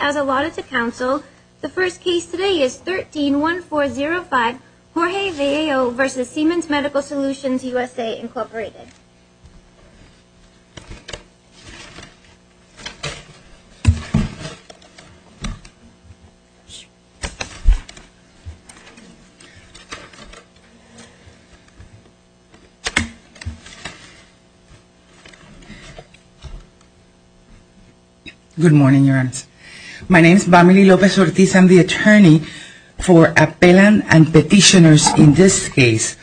As allotted to counsel, the first case today is 13-1405 Jorge Vallejo v. Siemens Medical Solutions USA, Incorporated. My name is Vamily Lopez-Ortiz. I am the attorney for appellant and petitioners in this case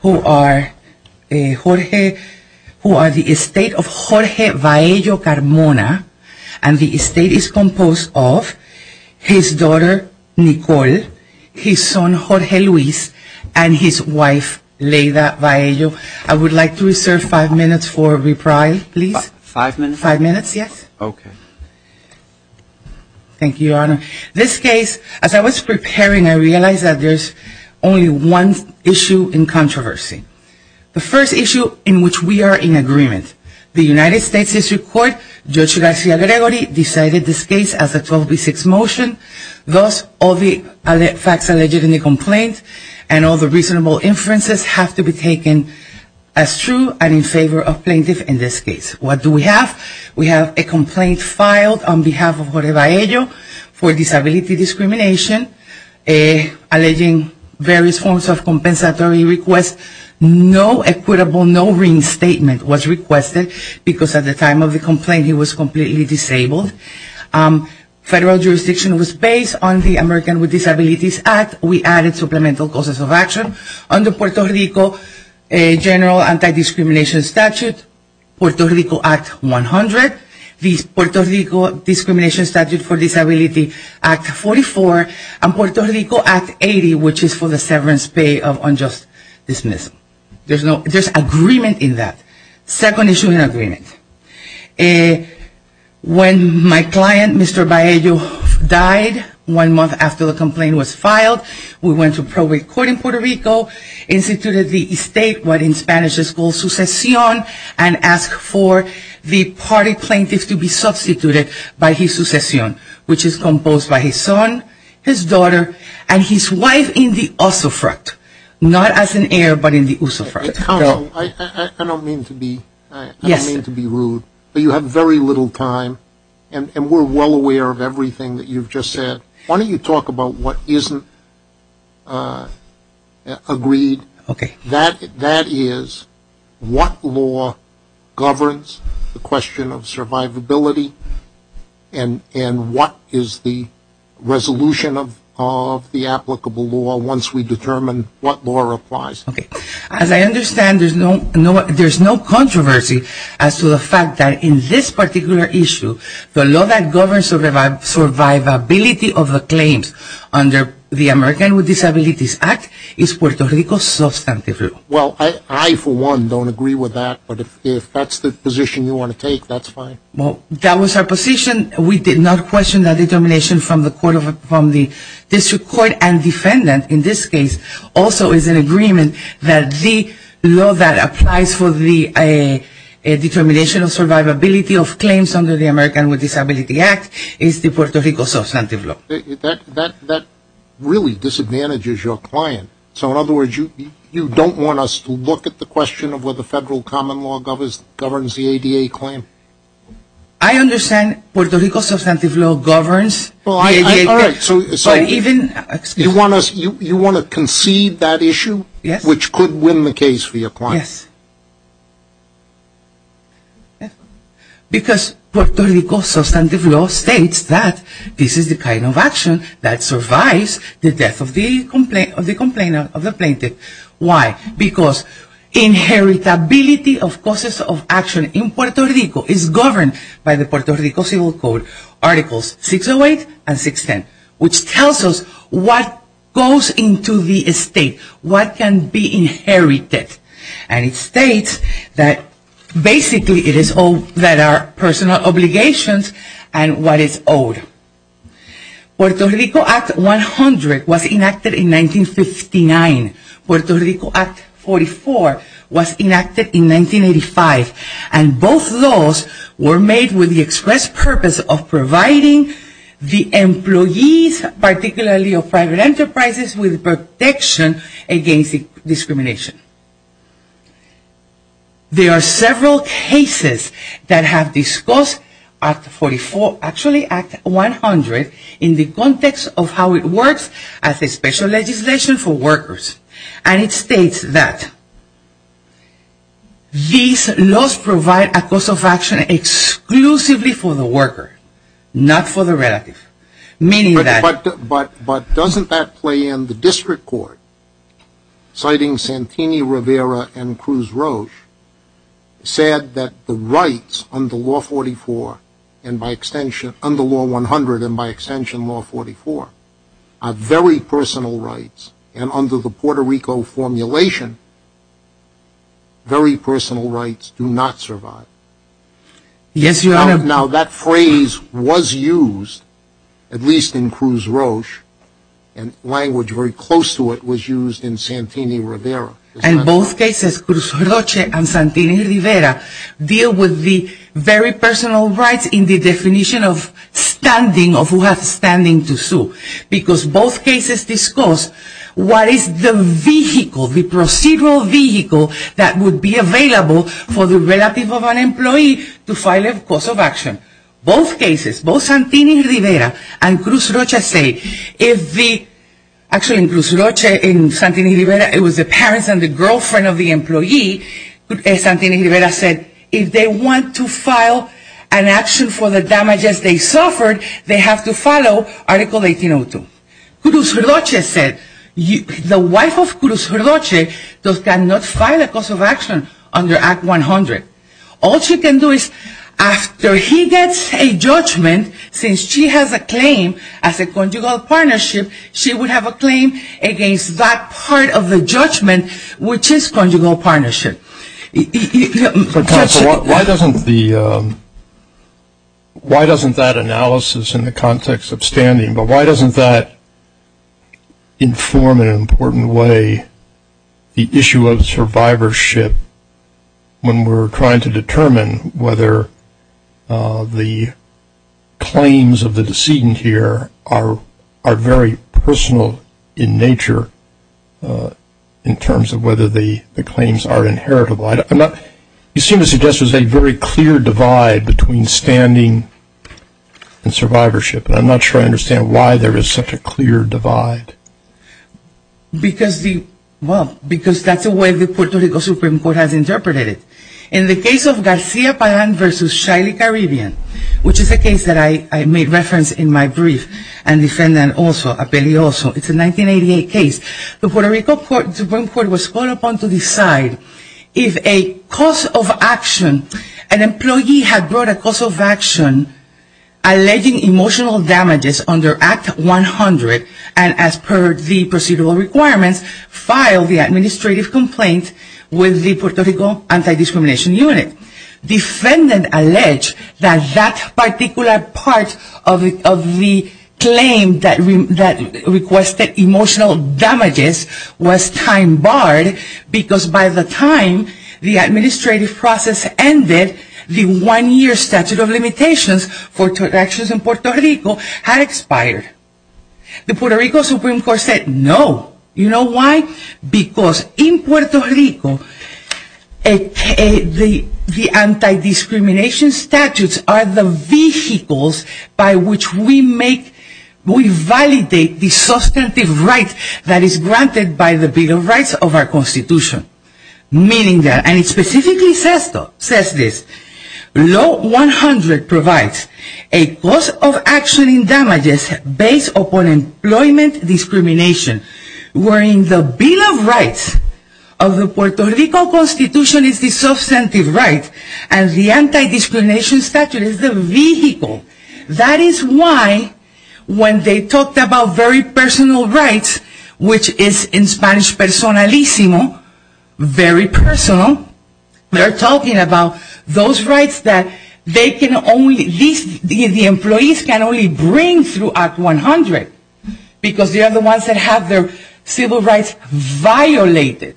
who are Jorge, who are the petitioners. I would like to reserve five minutes for reprieve, please. This case, as I was preparing, I realized that there is only one issue in controversy. The first issue in which we are in agreement. The United States District Court, Judge Gracia Gregory, decided this case as a 12B6 motion. Thus, all the facts alleged in the complaint and all the reasonable inferences have to be taken as true and in favor of plaintiff in this case. What do we have? We have a complaint filed on behalf of Jorge Vallejo for disability discrimination, alleging various forms of compensatory requests. No equitable, no reinstatement was requested because at the time of the complaint he was completely disabled. Federal jurisdiction was based on the American with Disabilities Act. We added supplemental causes of action under Puerto Rico General Anti-Discrimination Statute, Puerto Rico Act 100, the Puerto Rico Discrimination Statute for Disability Act 44, and Puerto Rico Act 80, which is for the severance pay of unjust dismissal. There is agreement in that. Second issue in agreement. When my client, Mr. Vallejo, died one month after the complaint was filed, we went to probate court in Puerto Rico, instituted the estate, what in Spanish is called sucesión, and asked for the party plaintiff to be substituted by his sucesión, which is composed by his son, his daughter, and his wife in the usufruct. Not as an heir, but in the usufruct. Counsel, I don't mean to be rude, but you have very little time, and we're well aware of everything that you've just said. Why don't you talk about what isn't agreed? That is, what law governs the question of survivability, and what is the resolution of the applicable law once we determine what law applies? Okay. As I understand, there's no controversy as to the fact that in this particular issue, the law that governs the survivability of the claims under the American with Disabilities Act is Puerto Rico substantive. Well, I, for one, don't agree with that, but if that's the position you want to take, that's fine. Well, that was our position. We did not question that determination from the District Court, and defendant in this case also is in agreement that the law that applies for the determination of survivability of claims under the American with Disabilities Act is the Puerto Rico substantive law. That really disadvantages your client. So, in other words, you don't want us to look at the question of whether federal common law governs the ADA claim? I understand Puerto Rico substantive law governs the ADA claim. All right, so you want to concede that issue, which could win the case for your client? Yes. Because Puerto Rico substantive law states that this is the kind of action that survives the death of the complainant, of the plaintiff. Why? Because inheritability of causes of action in Puerto Rico is governed by the Puerto Rico Civil Code, Articles 608 and 610, which tells us what goes into the estate, what can be inherited. And it states that basically it is all that are personal obligations and what is owed. Puerto Rico Act 100 was enacted in 1959. Puerto Rico Act 44 was enacted in 1985. And both laws were made with the express purpose of providing the employees, particularly of private enterprises, with protection against discrimination. There are several cases that have discussed Act 44, actually Act 100, in the context of how it works as a special legislation for workers. And it states that these laws provide a cause of action exclusively for the worker, not for the relative. But doesn't that play in the district court, citing Santini Rivera and Cruz Roche, said that the rights under Law 100 and by extension Law 44 are very personal rights and under the Puerto Rico formulation, very personal rights do not survive. Yes, Your Honor. Now that phrase was used, at least in Cruz Roche, and language very close to it was used in Santini Rivera. In both cases, Cruz Roche and Santini Rivera deal with the very personal rights in the definition of standing, of who has standing to sue. Because both cases discuss what is the vehicle, the procedural vehicle that would be available for the relative of an employee to file a cause of action. Both cases, both Santini Rivera and Cruz Roche say, if the, actually in Cruz Roche, in Santini Rivera, it was the parents and the girlfriend of the employee, Santini Rivera said, if they want to file an action for the damages they suffered, they have to follow Article 1802. Cruz Roche said, the wife of Cruz Roche cannot file a cause of action under Act 100. All she can do is, after he gets a judgment, since she has a claim as a conjugal partnership, she would have a claim against that part of the judgment, which is conjugal partnership. Why doesn't that analysis in the context of standing, but why doesn't that inform in an important way the issue of survivorship when we're trying to determine whether the claims of the decedent here are very personal in nature, in terms of whether the claims are inheritable. You seem to suggest there's a very clear divide between standing and survivorship, and I'm not sure I understand why there is such a clear divide. Because the, well, because that's the way the Puerto Rico Supreme Court has interpreted it. In the case of Garcia Pagan versus Shiley Caribbean, which is a case that I made reference in my brief, and defendant also, Appelli also, it's a 1988 case. The Puerto Rico Supreme Court was called upon to decide if a cause of action, an employee had brought a cause of action alleging emotional damages under Act 100, and as per the procedural requirements, filed the administrative complaint with the Puerto Rico Anti-Discrimination Unit. Defendant alleged that that particular part of the claim that requested emotional damages was time barred because by the time the administrative process ended, the one-year statute of limitations for actions in Puerto Rico had expired. The Puerto Rico Supreme Court said no, you know why? Because in Puerto Rico, the anti-discrimination statutes are the vehicles by which we make, we validate the substantive rights that is granted by the Bill of Rights of our Constitution. Meaning that, and it specifically says this, Law 100 provides a cause of action in damages based upon employment discrimination, wherein the Bill of Rights of the Puerto Rico Constitution is the substantive right, and the anti-discrimination statute is the vehicle. That is why when they talked about very personal rights, which is in Spanish personalisimo, very personal, they're talking about those rights that they can only, the employees can only bring through Act 100, because they are the ones that have their civil rights violated.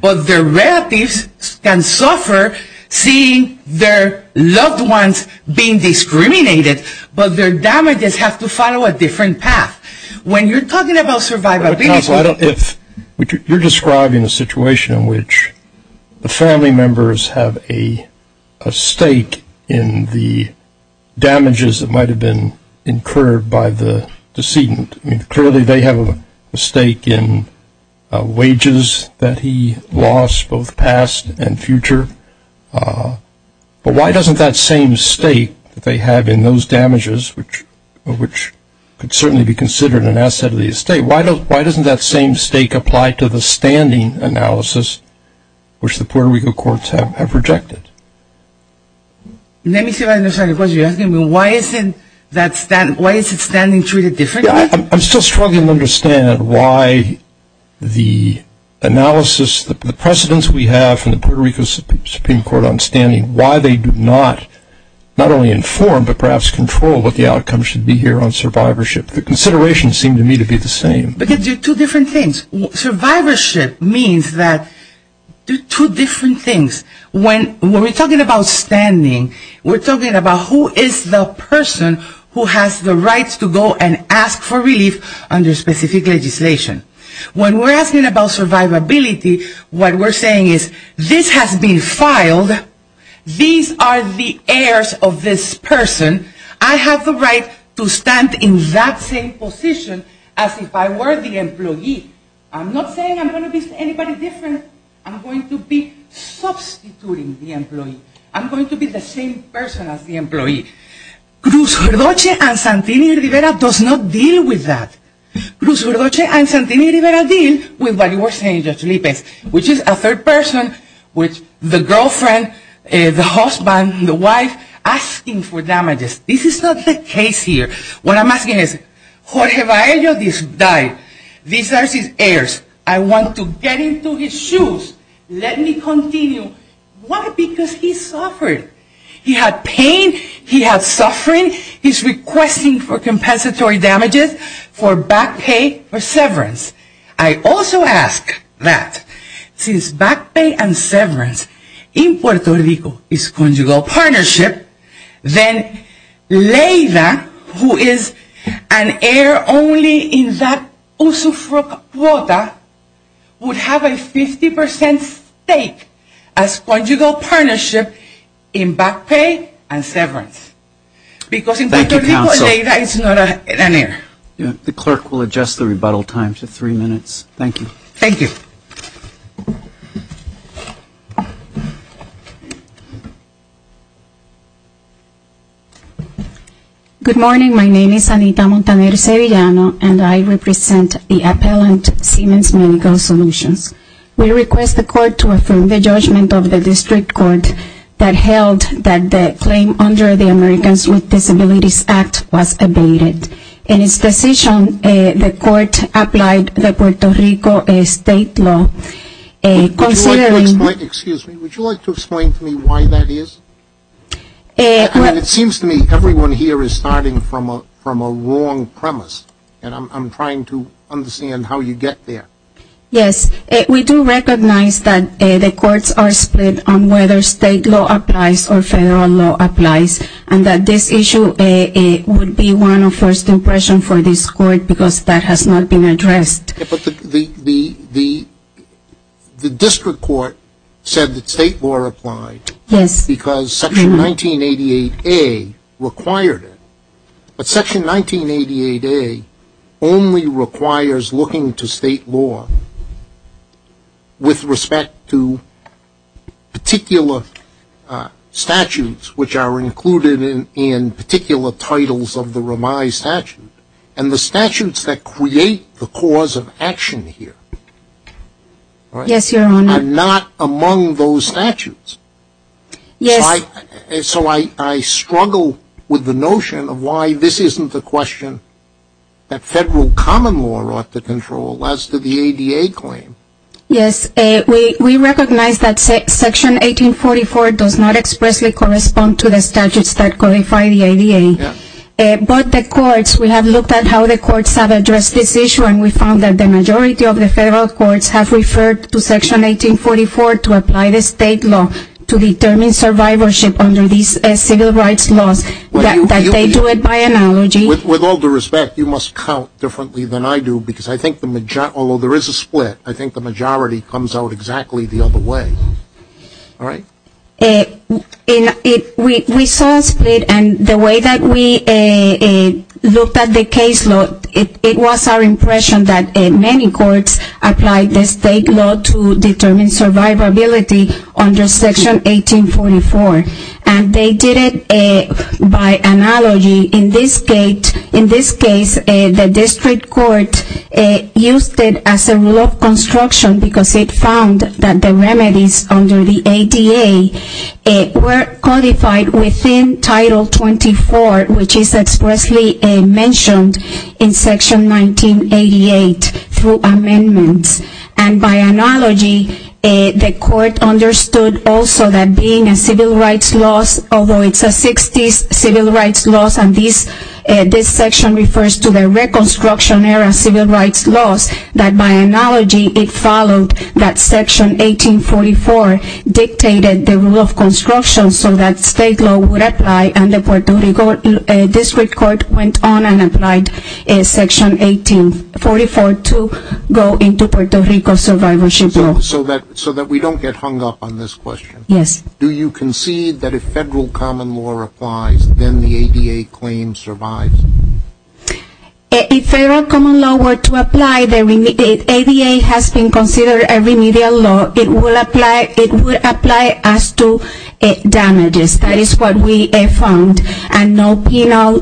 But their relatives can suffer seeing their loved ones being discriminated, but their damages have to follow a different path. When you're talking about survivability... Why doesn't that same stake apply to the standing analysis, which the Puerto Rico courts have rejected? Let me see if I understand the question. You're asking me why isn't that standing treated differently? I'm still struggling to understand why the analysis, the precedents we have from the Puerto Rico Supreme Court on standing, why they do not, not only inform, but perhaps control what the outcomes should be here on survivorship. The considerations seem to me to be the same. Because they're two different things. Survivorship means that they're two different things. When we're talking about standing, we're talking about who is the person who has the rights to go and ask for relief under specific legislation. When we're asking about survivability, what we're saying is this has been filed. These are the heirs of this person. I have the right to stand in that same position as if I were the employee. I'm not saying I'm going to be anybody different. I'm going to be substituting the employee. I'm going to be the same person as the employee. Cruz Gordoche and Santini Rivera does not deal with that. Cruz Gordoche and Santini Rivera deal with what you were saying, Judge Lippens, which is a third person with the girlfriend, the husband, the wife, asking for damages. This is not the case here. What I'm asking is, Jorge Vallejo died. These are his heirs. I want to get into his shoes. Let me continue. Why? Because he suffered. He had pain. He had suffering. He had pain. He's requesting for compensatory damages for back pay or severance. I also ask that since back pay and severance in Puerto Rico is conjugal partnership, then Leyda, who is an heir only in that Usufruc quota, would have a 50% stake as conjugal partnership in back pay and severance. Because in Puerto Rico, Leyda is not an heir. The clerk will adjust the rebuttal time to three minutes. Thank you. Thank you. Good morning. My name is Anita Montaner-Sevillano, and I represent the appellant, Siemens Medical Solutions. We request the court to affirm the judgment of the district court that held that the claim under the Americans with Disabilities Act was abated. In its decision, the court applied the Puerto Rico state law, considering Would you like to explain to me why that is? It seems to me everyone here is starting from a wrong premise, and I'm trying to understand how you get there. Yes. We do recognize that the courts are split on whether state law applies or federal law applies, and that this issue would be one of first impression for this court because that has not been addressed. But the district court said that state law applied. Yes. Because Section 1988A required it. But Section 1988A only requires looking to state law with respect to particular statutes, which are included in particular titles of the Ramai statute. And the statutes that create the cause of action here are not among those statutes. Yes. So I struggle with the notion of why this isn't a question that federal common law ought to control as to the ADA claim. Yes. We recognize that Section 1844 does not expressly correspond to the statutes that codify the ADA. Yes. But the courts, we have looked at how the courts have addressed this issue, and we found that the majority of the federal courts have referred to Section 1844 to apply the state law to determine survivorship under these civil rights laws, that they do it by analogy. With all due respect, you must count differently than I do because I think the majority, although there is a split, I think the majority comes out exactly the other way. All right? We saw a split, and the way that we looked at the case law, it was our impression that many courts applied the state law to determine survivability under Section 1844. And they did it by analogy. In this case, the district court used it as a law of construction because it found that the remedies under the ADA were codified within Title 24, which is expressly mentioned in Section 1988 through amendments. And by analogy, the court understood also that being a civil rights laws, although it's a 60s civil rights laws and this section refers to the reconstruction era civil rights laws, that by analogy it followed that Section 1844 dictated the rule of construction so that state law would apply and the Puerto Rico district court went on and applied Section 1844 to go into Puerto Rico survivorship law. So that we don't get hung up on this question. Yes. Do you concede that if federal common law applies, then the ADA claim survives? If federal common law were to apply, the ADA has been considered a remedial law, it would apply as to damages. That is what we found. And no penal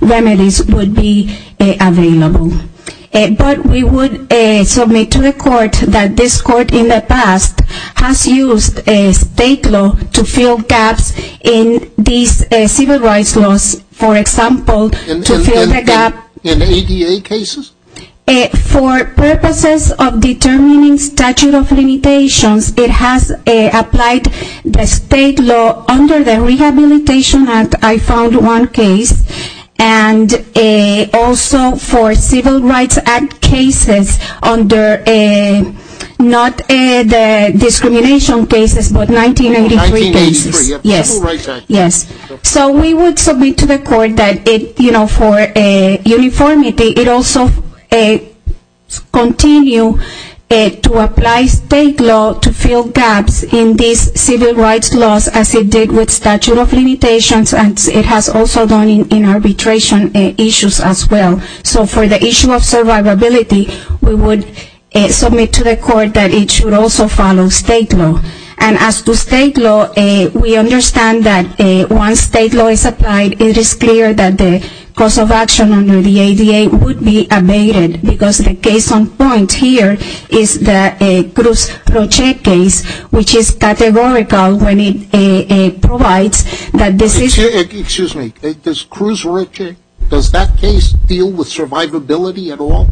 remedies would be available. But we would submit to the court that this court in the past has used state law to fill gaps in these civil rights laws, for example, to fill the gap. In ADA cases? For purposes of determining statute of limitations, it has applied the state law under the Rehabilitation Act, I found one case, and also for Civil Rights Act cases under, not the discrimination cases, but 1983 cases. 1983. Yes. Civil Rights Act. Yes. So we would submit to the court that it, you know, for uniformity, it also continue to apply state law to fill gaps in these civil rights laws as it did with statute of limitations, and it has also done in arbitration issues as well. So for the issue of survivability, we would submit to the court that it should also follow state law. And as to state law, we understand that once state law is applied, it is clear that the cause of action under the ADA would be abated, because the case on point here is the Cruz Roche case, which is categorical when it provides that this is... Excuse me. Does Cruz Roche, does that case deal with survivability at all?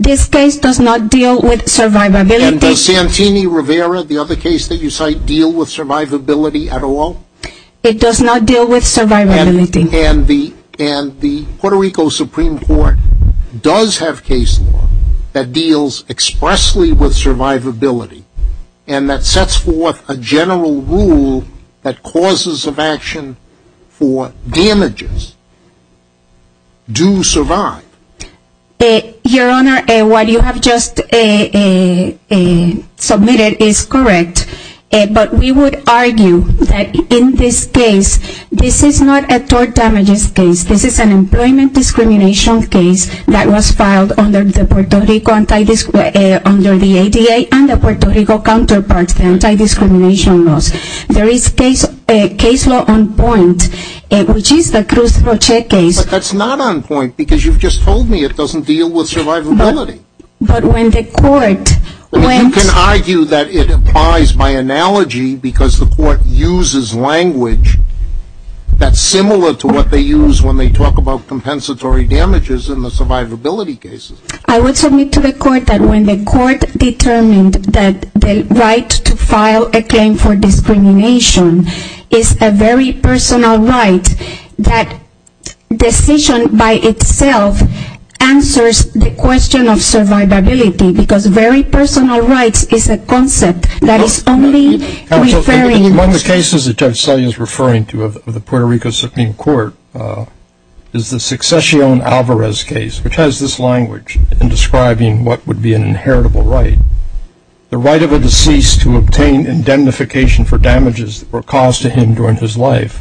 This case does not deal with survivability. And does Santini Rivera, the other case that you cite, deal with survivability at all? It does not deal with survivability. And the Puerto Rico Supreme Court does have case law that deals expressly with survivability, and that sets forth a general rule that causes of action for damages do survive. Your Honor, what you have just submitted is correct, but we would argue that in this case, this is not a tort damages case. This is an employment discrimination case that was filed under the ADA and the Puerto Rico counterparts, the anti-discrimination laws. There is case law on point, which is the Cruz Roche case. But that's not on point, because you've just told me it doesn't deal with survivability. But when the court... You can argue that it applies by analogy, because the court uses language that's similar to what they use when they talk about compensatory damages in the survivability cases. I would submit to the court that when the court determined that the right to file a claim for discrimination is a very personal right, that decision by itself answers the question of survivability, because very personal rights is a concept that is only referring... in the Puerto Rico Supreme Court is the Succession Alvarez case, which has this language in describing what would be an inheritable right. The right of a deceased to obtain indemnification for damages that were caused to him during his life.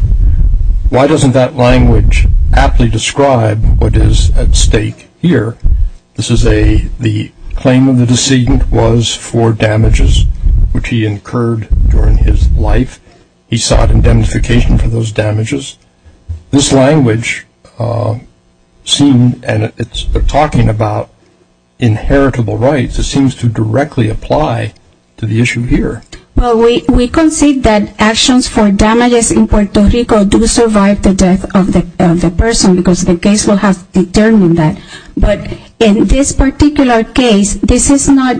Why doesn't that language aptly describe what is at stake here? This is the claim of the decedent was for damages which he incurred during his life. He sought indemnification for those damages. This language seemed... and it's talking about inheritable rights. It seems to directly apply to the issue here. Well, we concede that actions for damages in Puerto Rico do survive the death of the person, because the case will have determined that. But in this particular case, this is not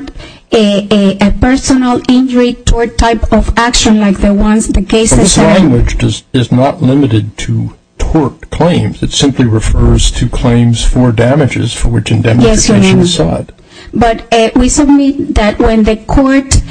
a personal injury type of action like the ones the case... But this language is not limited to tort claims. It simply refers to claims for damages for which indemnification was sought. Yes, Your Honor. But we submit that when the court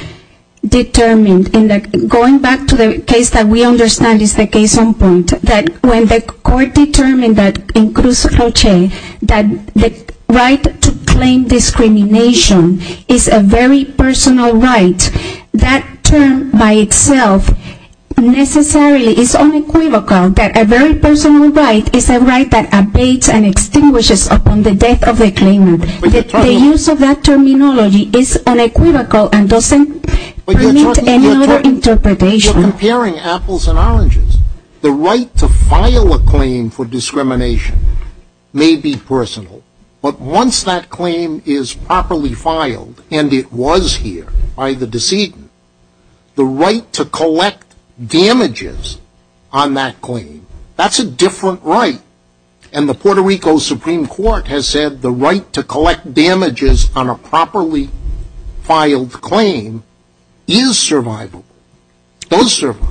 determined, and going back to the case that we understand is the case on point, that when the court determined that in Cruz Roche, that the right to claim discrimination is a very personal right, that term by itself necessarily is unequivocal that a very personal right is a right that abates and extinguishes upon the death of the claimant. The use of that terminology is unequivocal and doesn't permit any other interpretation. You're comparing apples and oranges. The right to file a claim for discrimination may be personal, but once that claim is properly filed, and it was here by the decedent, the right to collect damages on that claim, that's a different right. And the Puerto Rico Supreme Court has said the right to collect damages on a properly filed claim is survivable. Those survive.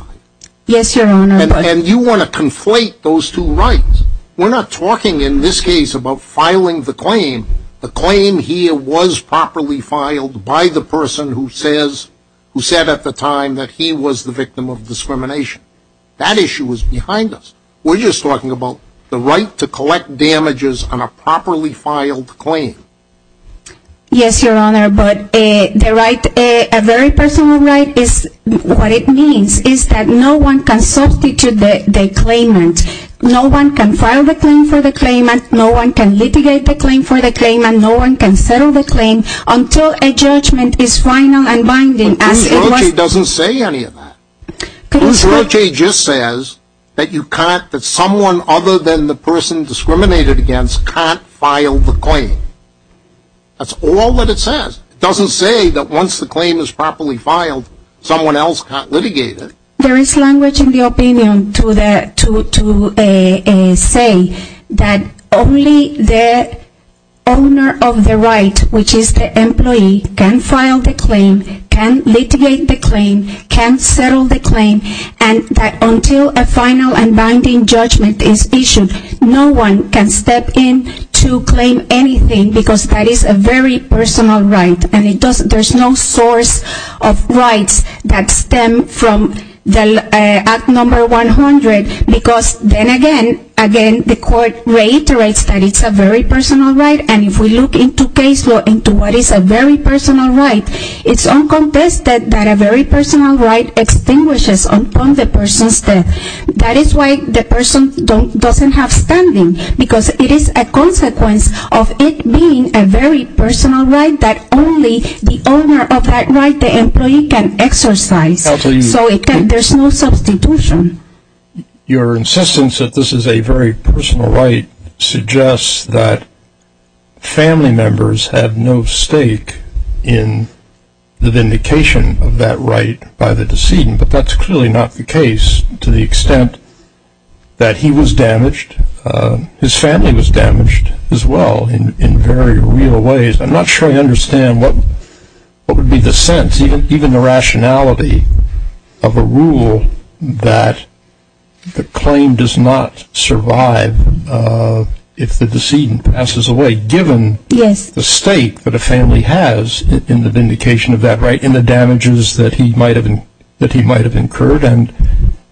Yes, Your Honor. And you want to conflate those two rights. We're not talking in this case about filing the claim. The claim here was properly filed by the person who said at the time that he was the victim of discrimination. That issue was behind us. We're just talking about the right to collect damages on a properly filed claim. Yes, Your Honor, but the right, a very personal right, what it means is that no one can substitute the claimant. No one can file the claim for the claimant. No one can litigate the claim for the claimant. No one can settle the claim until a judgment is final and binding. Luz Roche doesn't say any of that. Luz Roche just says that you can't, that someone other than the person discriminated against can't file the claim. That's all that it says. It doesn't say that once the claim is properly filed, someone else can't litigate it. There is language in the opinion to say that only the owner of the right, which is the employee, can file the claim, can litigate the claim, can settle the claim, and that until a final and binding judgment is issued, no one can step in to claim anything because that is a very personal right. And there's no source of rights that stem from Act No. 100 because then again the court reiterates that it's a very personal right. And if we look into case law into what is a very personal right, it's uncontested that a very personal right extinguishes upon the person's death. That is why the person doesn't have standing because it is a consequence of it being a very personal right that only the owner of that right, the employee, can exercise. So there's no substitution. Your insistence that this is a very personal right suggests that family members have no stake in the vindication of that right by the decedent, but that's clearly not the case to the extent that he was damaged. His family was damaged as well in very real ways. I'm not sure I understand what would be the sense, even the rationality, of a rule that the claim does not survive if the decedent passes away, given the stake that a family has in the vindication of that right, in the damages that he might have incurred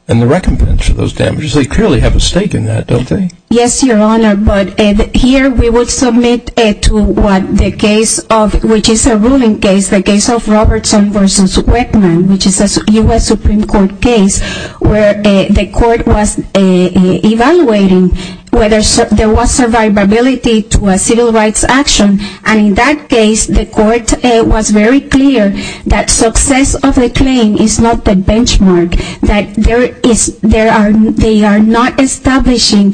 and the recompense of those damages. They clearly have a stake in that, don't they? Yes, Your Honor, but here we would submit to what the case of, which is a ruling case, the case of Robertson v. Weckman, which is a U.S. Supreme Court case where the court was evaluating whether there was survivability to a civil rights action. And in that case, the court was very clear that success of the claim is not the benchmark, that they are not establishing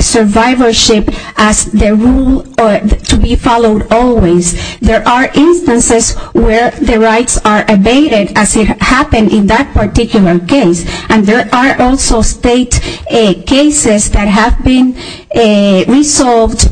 survivorship as the rule to be followed always. There are instances where the rights are abated, as it happened in that particular case. And there are also state cases that have been resolved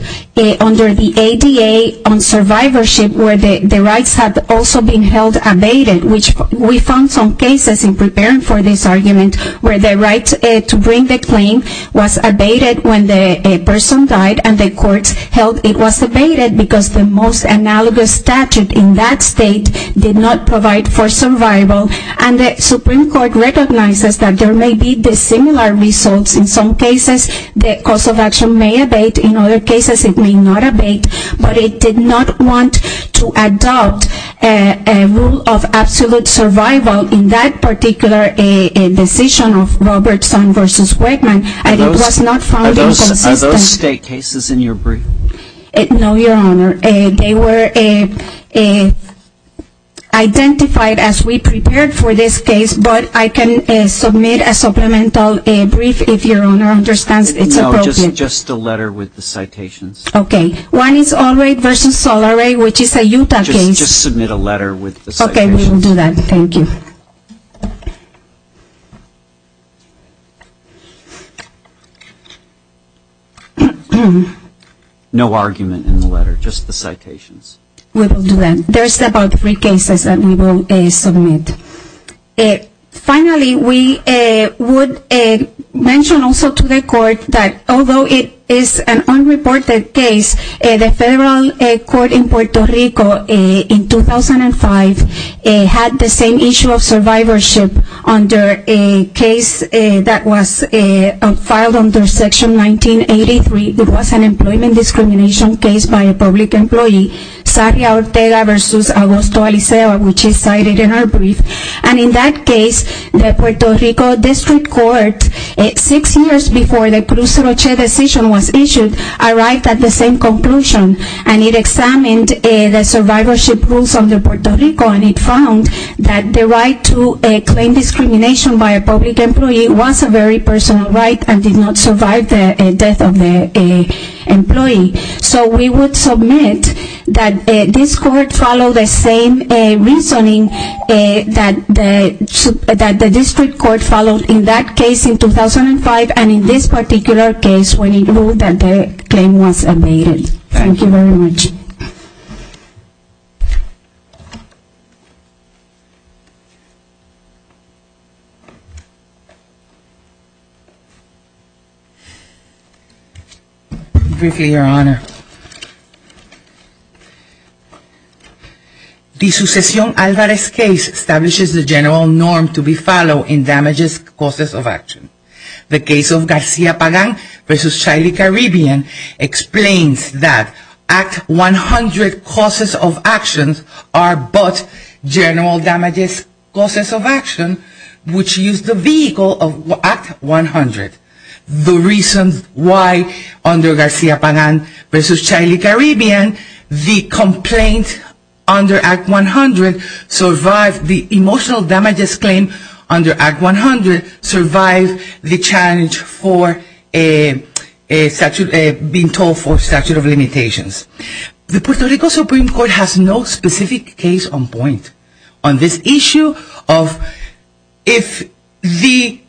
under the ADA on survivorship where the rights have also been held abated, which we found some cases in preparing for this argument where the right to bring the claim was abated when the person died and the court held it was abated because the most analogous statute in that state did not provide for survival. And the Supreme Court recognizes that there may be dissimilar results in some cases. The cause of action may abate. In other cases, it may not abate. But it did not want to adopt a rule of absolute survival in that particular decision of Robertson v. Weckman. And it was not found inconsistent. Are those state cases in your brief? No, Your Honor. They were identified as we prepared for this case, but I can submit a supplemental brief if Your Honor understands it's appropriate. No, just a letter with the citations. Okay. One is Albright v. Soloway, which is a Utah case. Just submit a letter with the citations. Okay, we will do that. Thank you. No argument in the letter, just the citations. We will do that. There are several brief cases that we will submit. Finally, we would mention also to the court that although it is an unreported case, the federal court in Puerto Rico in 2005 had the same issue of survivorship under a case that was filed under Section 1983. It was an employment discrimination case by a public employee, Saria Ortega v. Augusto Aliceo, which is cited in our brief. And in that case, the Puerto Rico District Court, six years before the Cruz Roche decision was issued, arrived at the same conclusion. And it examined the survivorship rules under Puerto Rico, and it found that the right to claim discrimination by a public employee was a very personal right and did not survive the death of the employee. So we would submit that this court followed the same reasoning that the district court followed in that case in 2005 and in this particular case when it ruled that the claim was abated. Thank you very much. Briefly, Your Honor. The Sucesión Alvarez case establishes the general norm to be followed in damages, causes of action. The case of Garcia Pagan v. Shiley Caribbean explains that at 100 causes of actions are but general damages, causes of action, which use the vehicle of Act 100. The reason why under Garcia Pagan v. Shiley Caribbean, the complaint under Act 100 survived the emotional damages claim under Act 100, survived the challenge for being told for statute of limitations. The Puerto Rico Supreme Court has no specific case on point on this issue of if the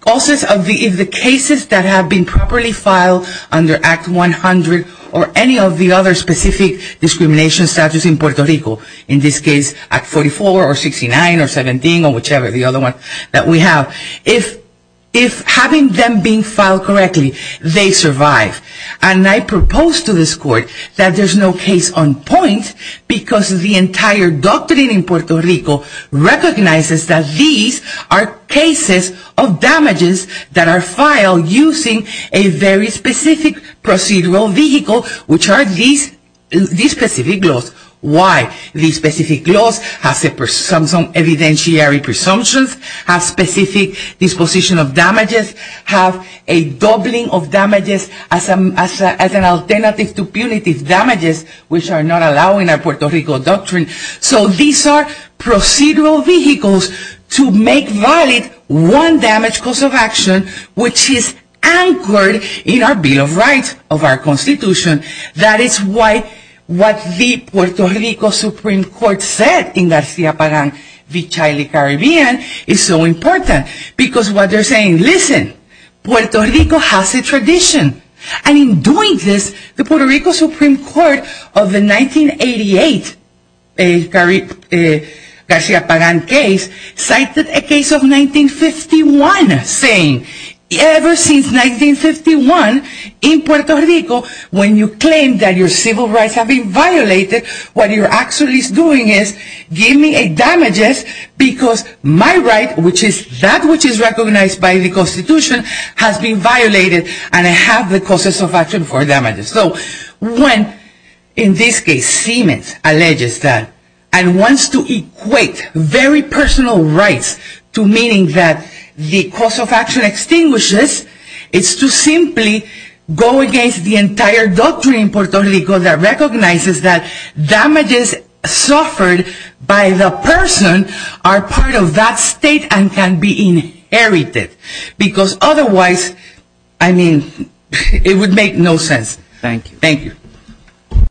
causes of the cases that have been properly filed under Act 100 or any of the other specific discrimination statutes in Puerto Rico, in this case, Act 44 or 69 or 17 or whichever the other one that we have, if having them being filed correctly, they survive. And I propose to this court that there's no case on point because the entire doctrine in Puerto Rico recognizes that these are cases of damages that are filed using a very specific procedural vehicle, which are these specific laws. Why? These specific laws have some evidentiary presumptions, have specific disposition of damages, have a doubling of damages as an alternative to punitive damages, which are not allowing a Puerto Rico doctrine. So these are procedural vehicles to make valid one damage cause of action, which is anchored in our Bill of Rights of our Constitution. That is why what the Puerto Rico Supreme Court said in Garcia Pagan v. Shiley Caribbean is so important because what they're saying, listen, Puerto Rico has a tradition. And in doing this, the Puerto Rico Supreme Court of the 1988 Garcia Pagan case cited a case of 1951 saying, ever since 1951 in Puerto Rico, when you claim that your civil rights have been violated, what you're actually doing is giving damages because my right, which is that which is recognized by the Constitution, has been violated and I have the causes of action for damages. So when, in this case, Siemens alleges that and wants to equate very personal rights to meaning that the cause of action extinguishes, it's to simply go against the entire doctrine in Puerto Rico that recognizes that damages suffered by the person are part of that state and can be inherited. Because otherwise, I mean, it would make no sense. Thank you.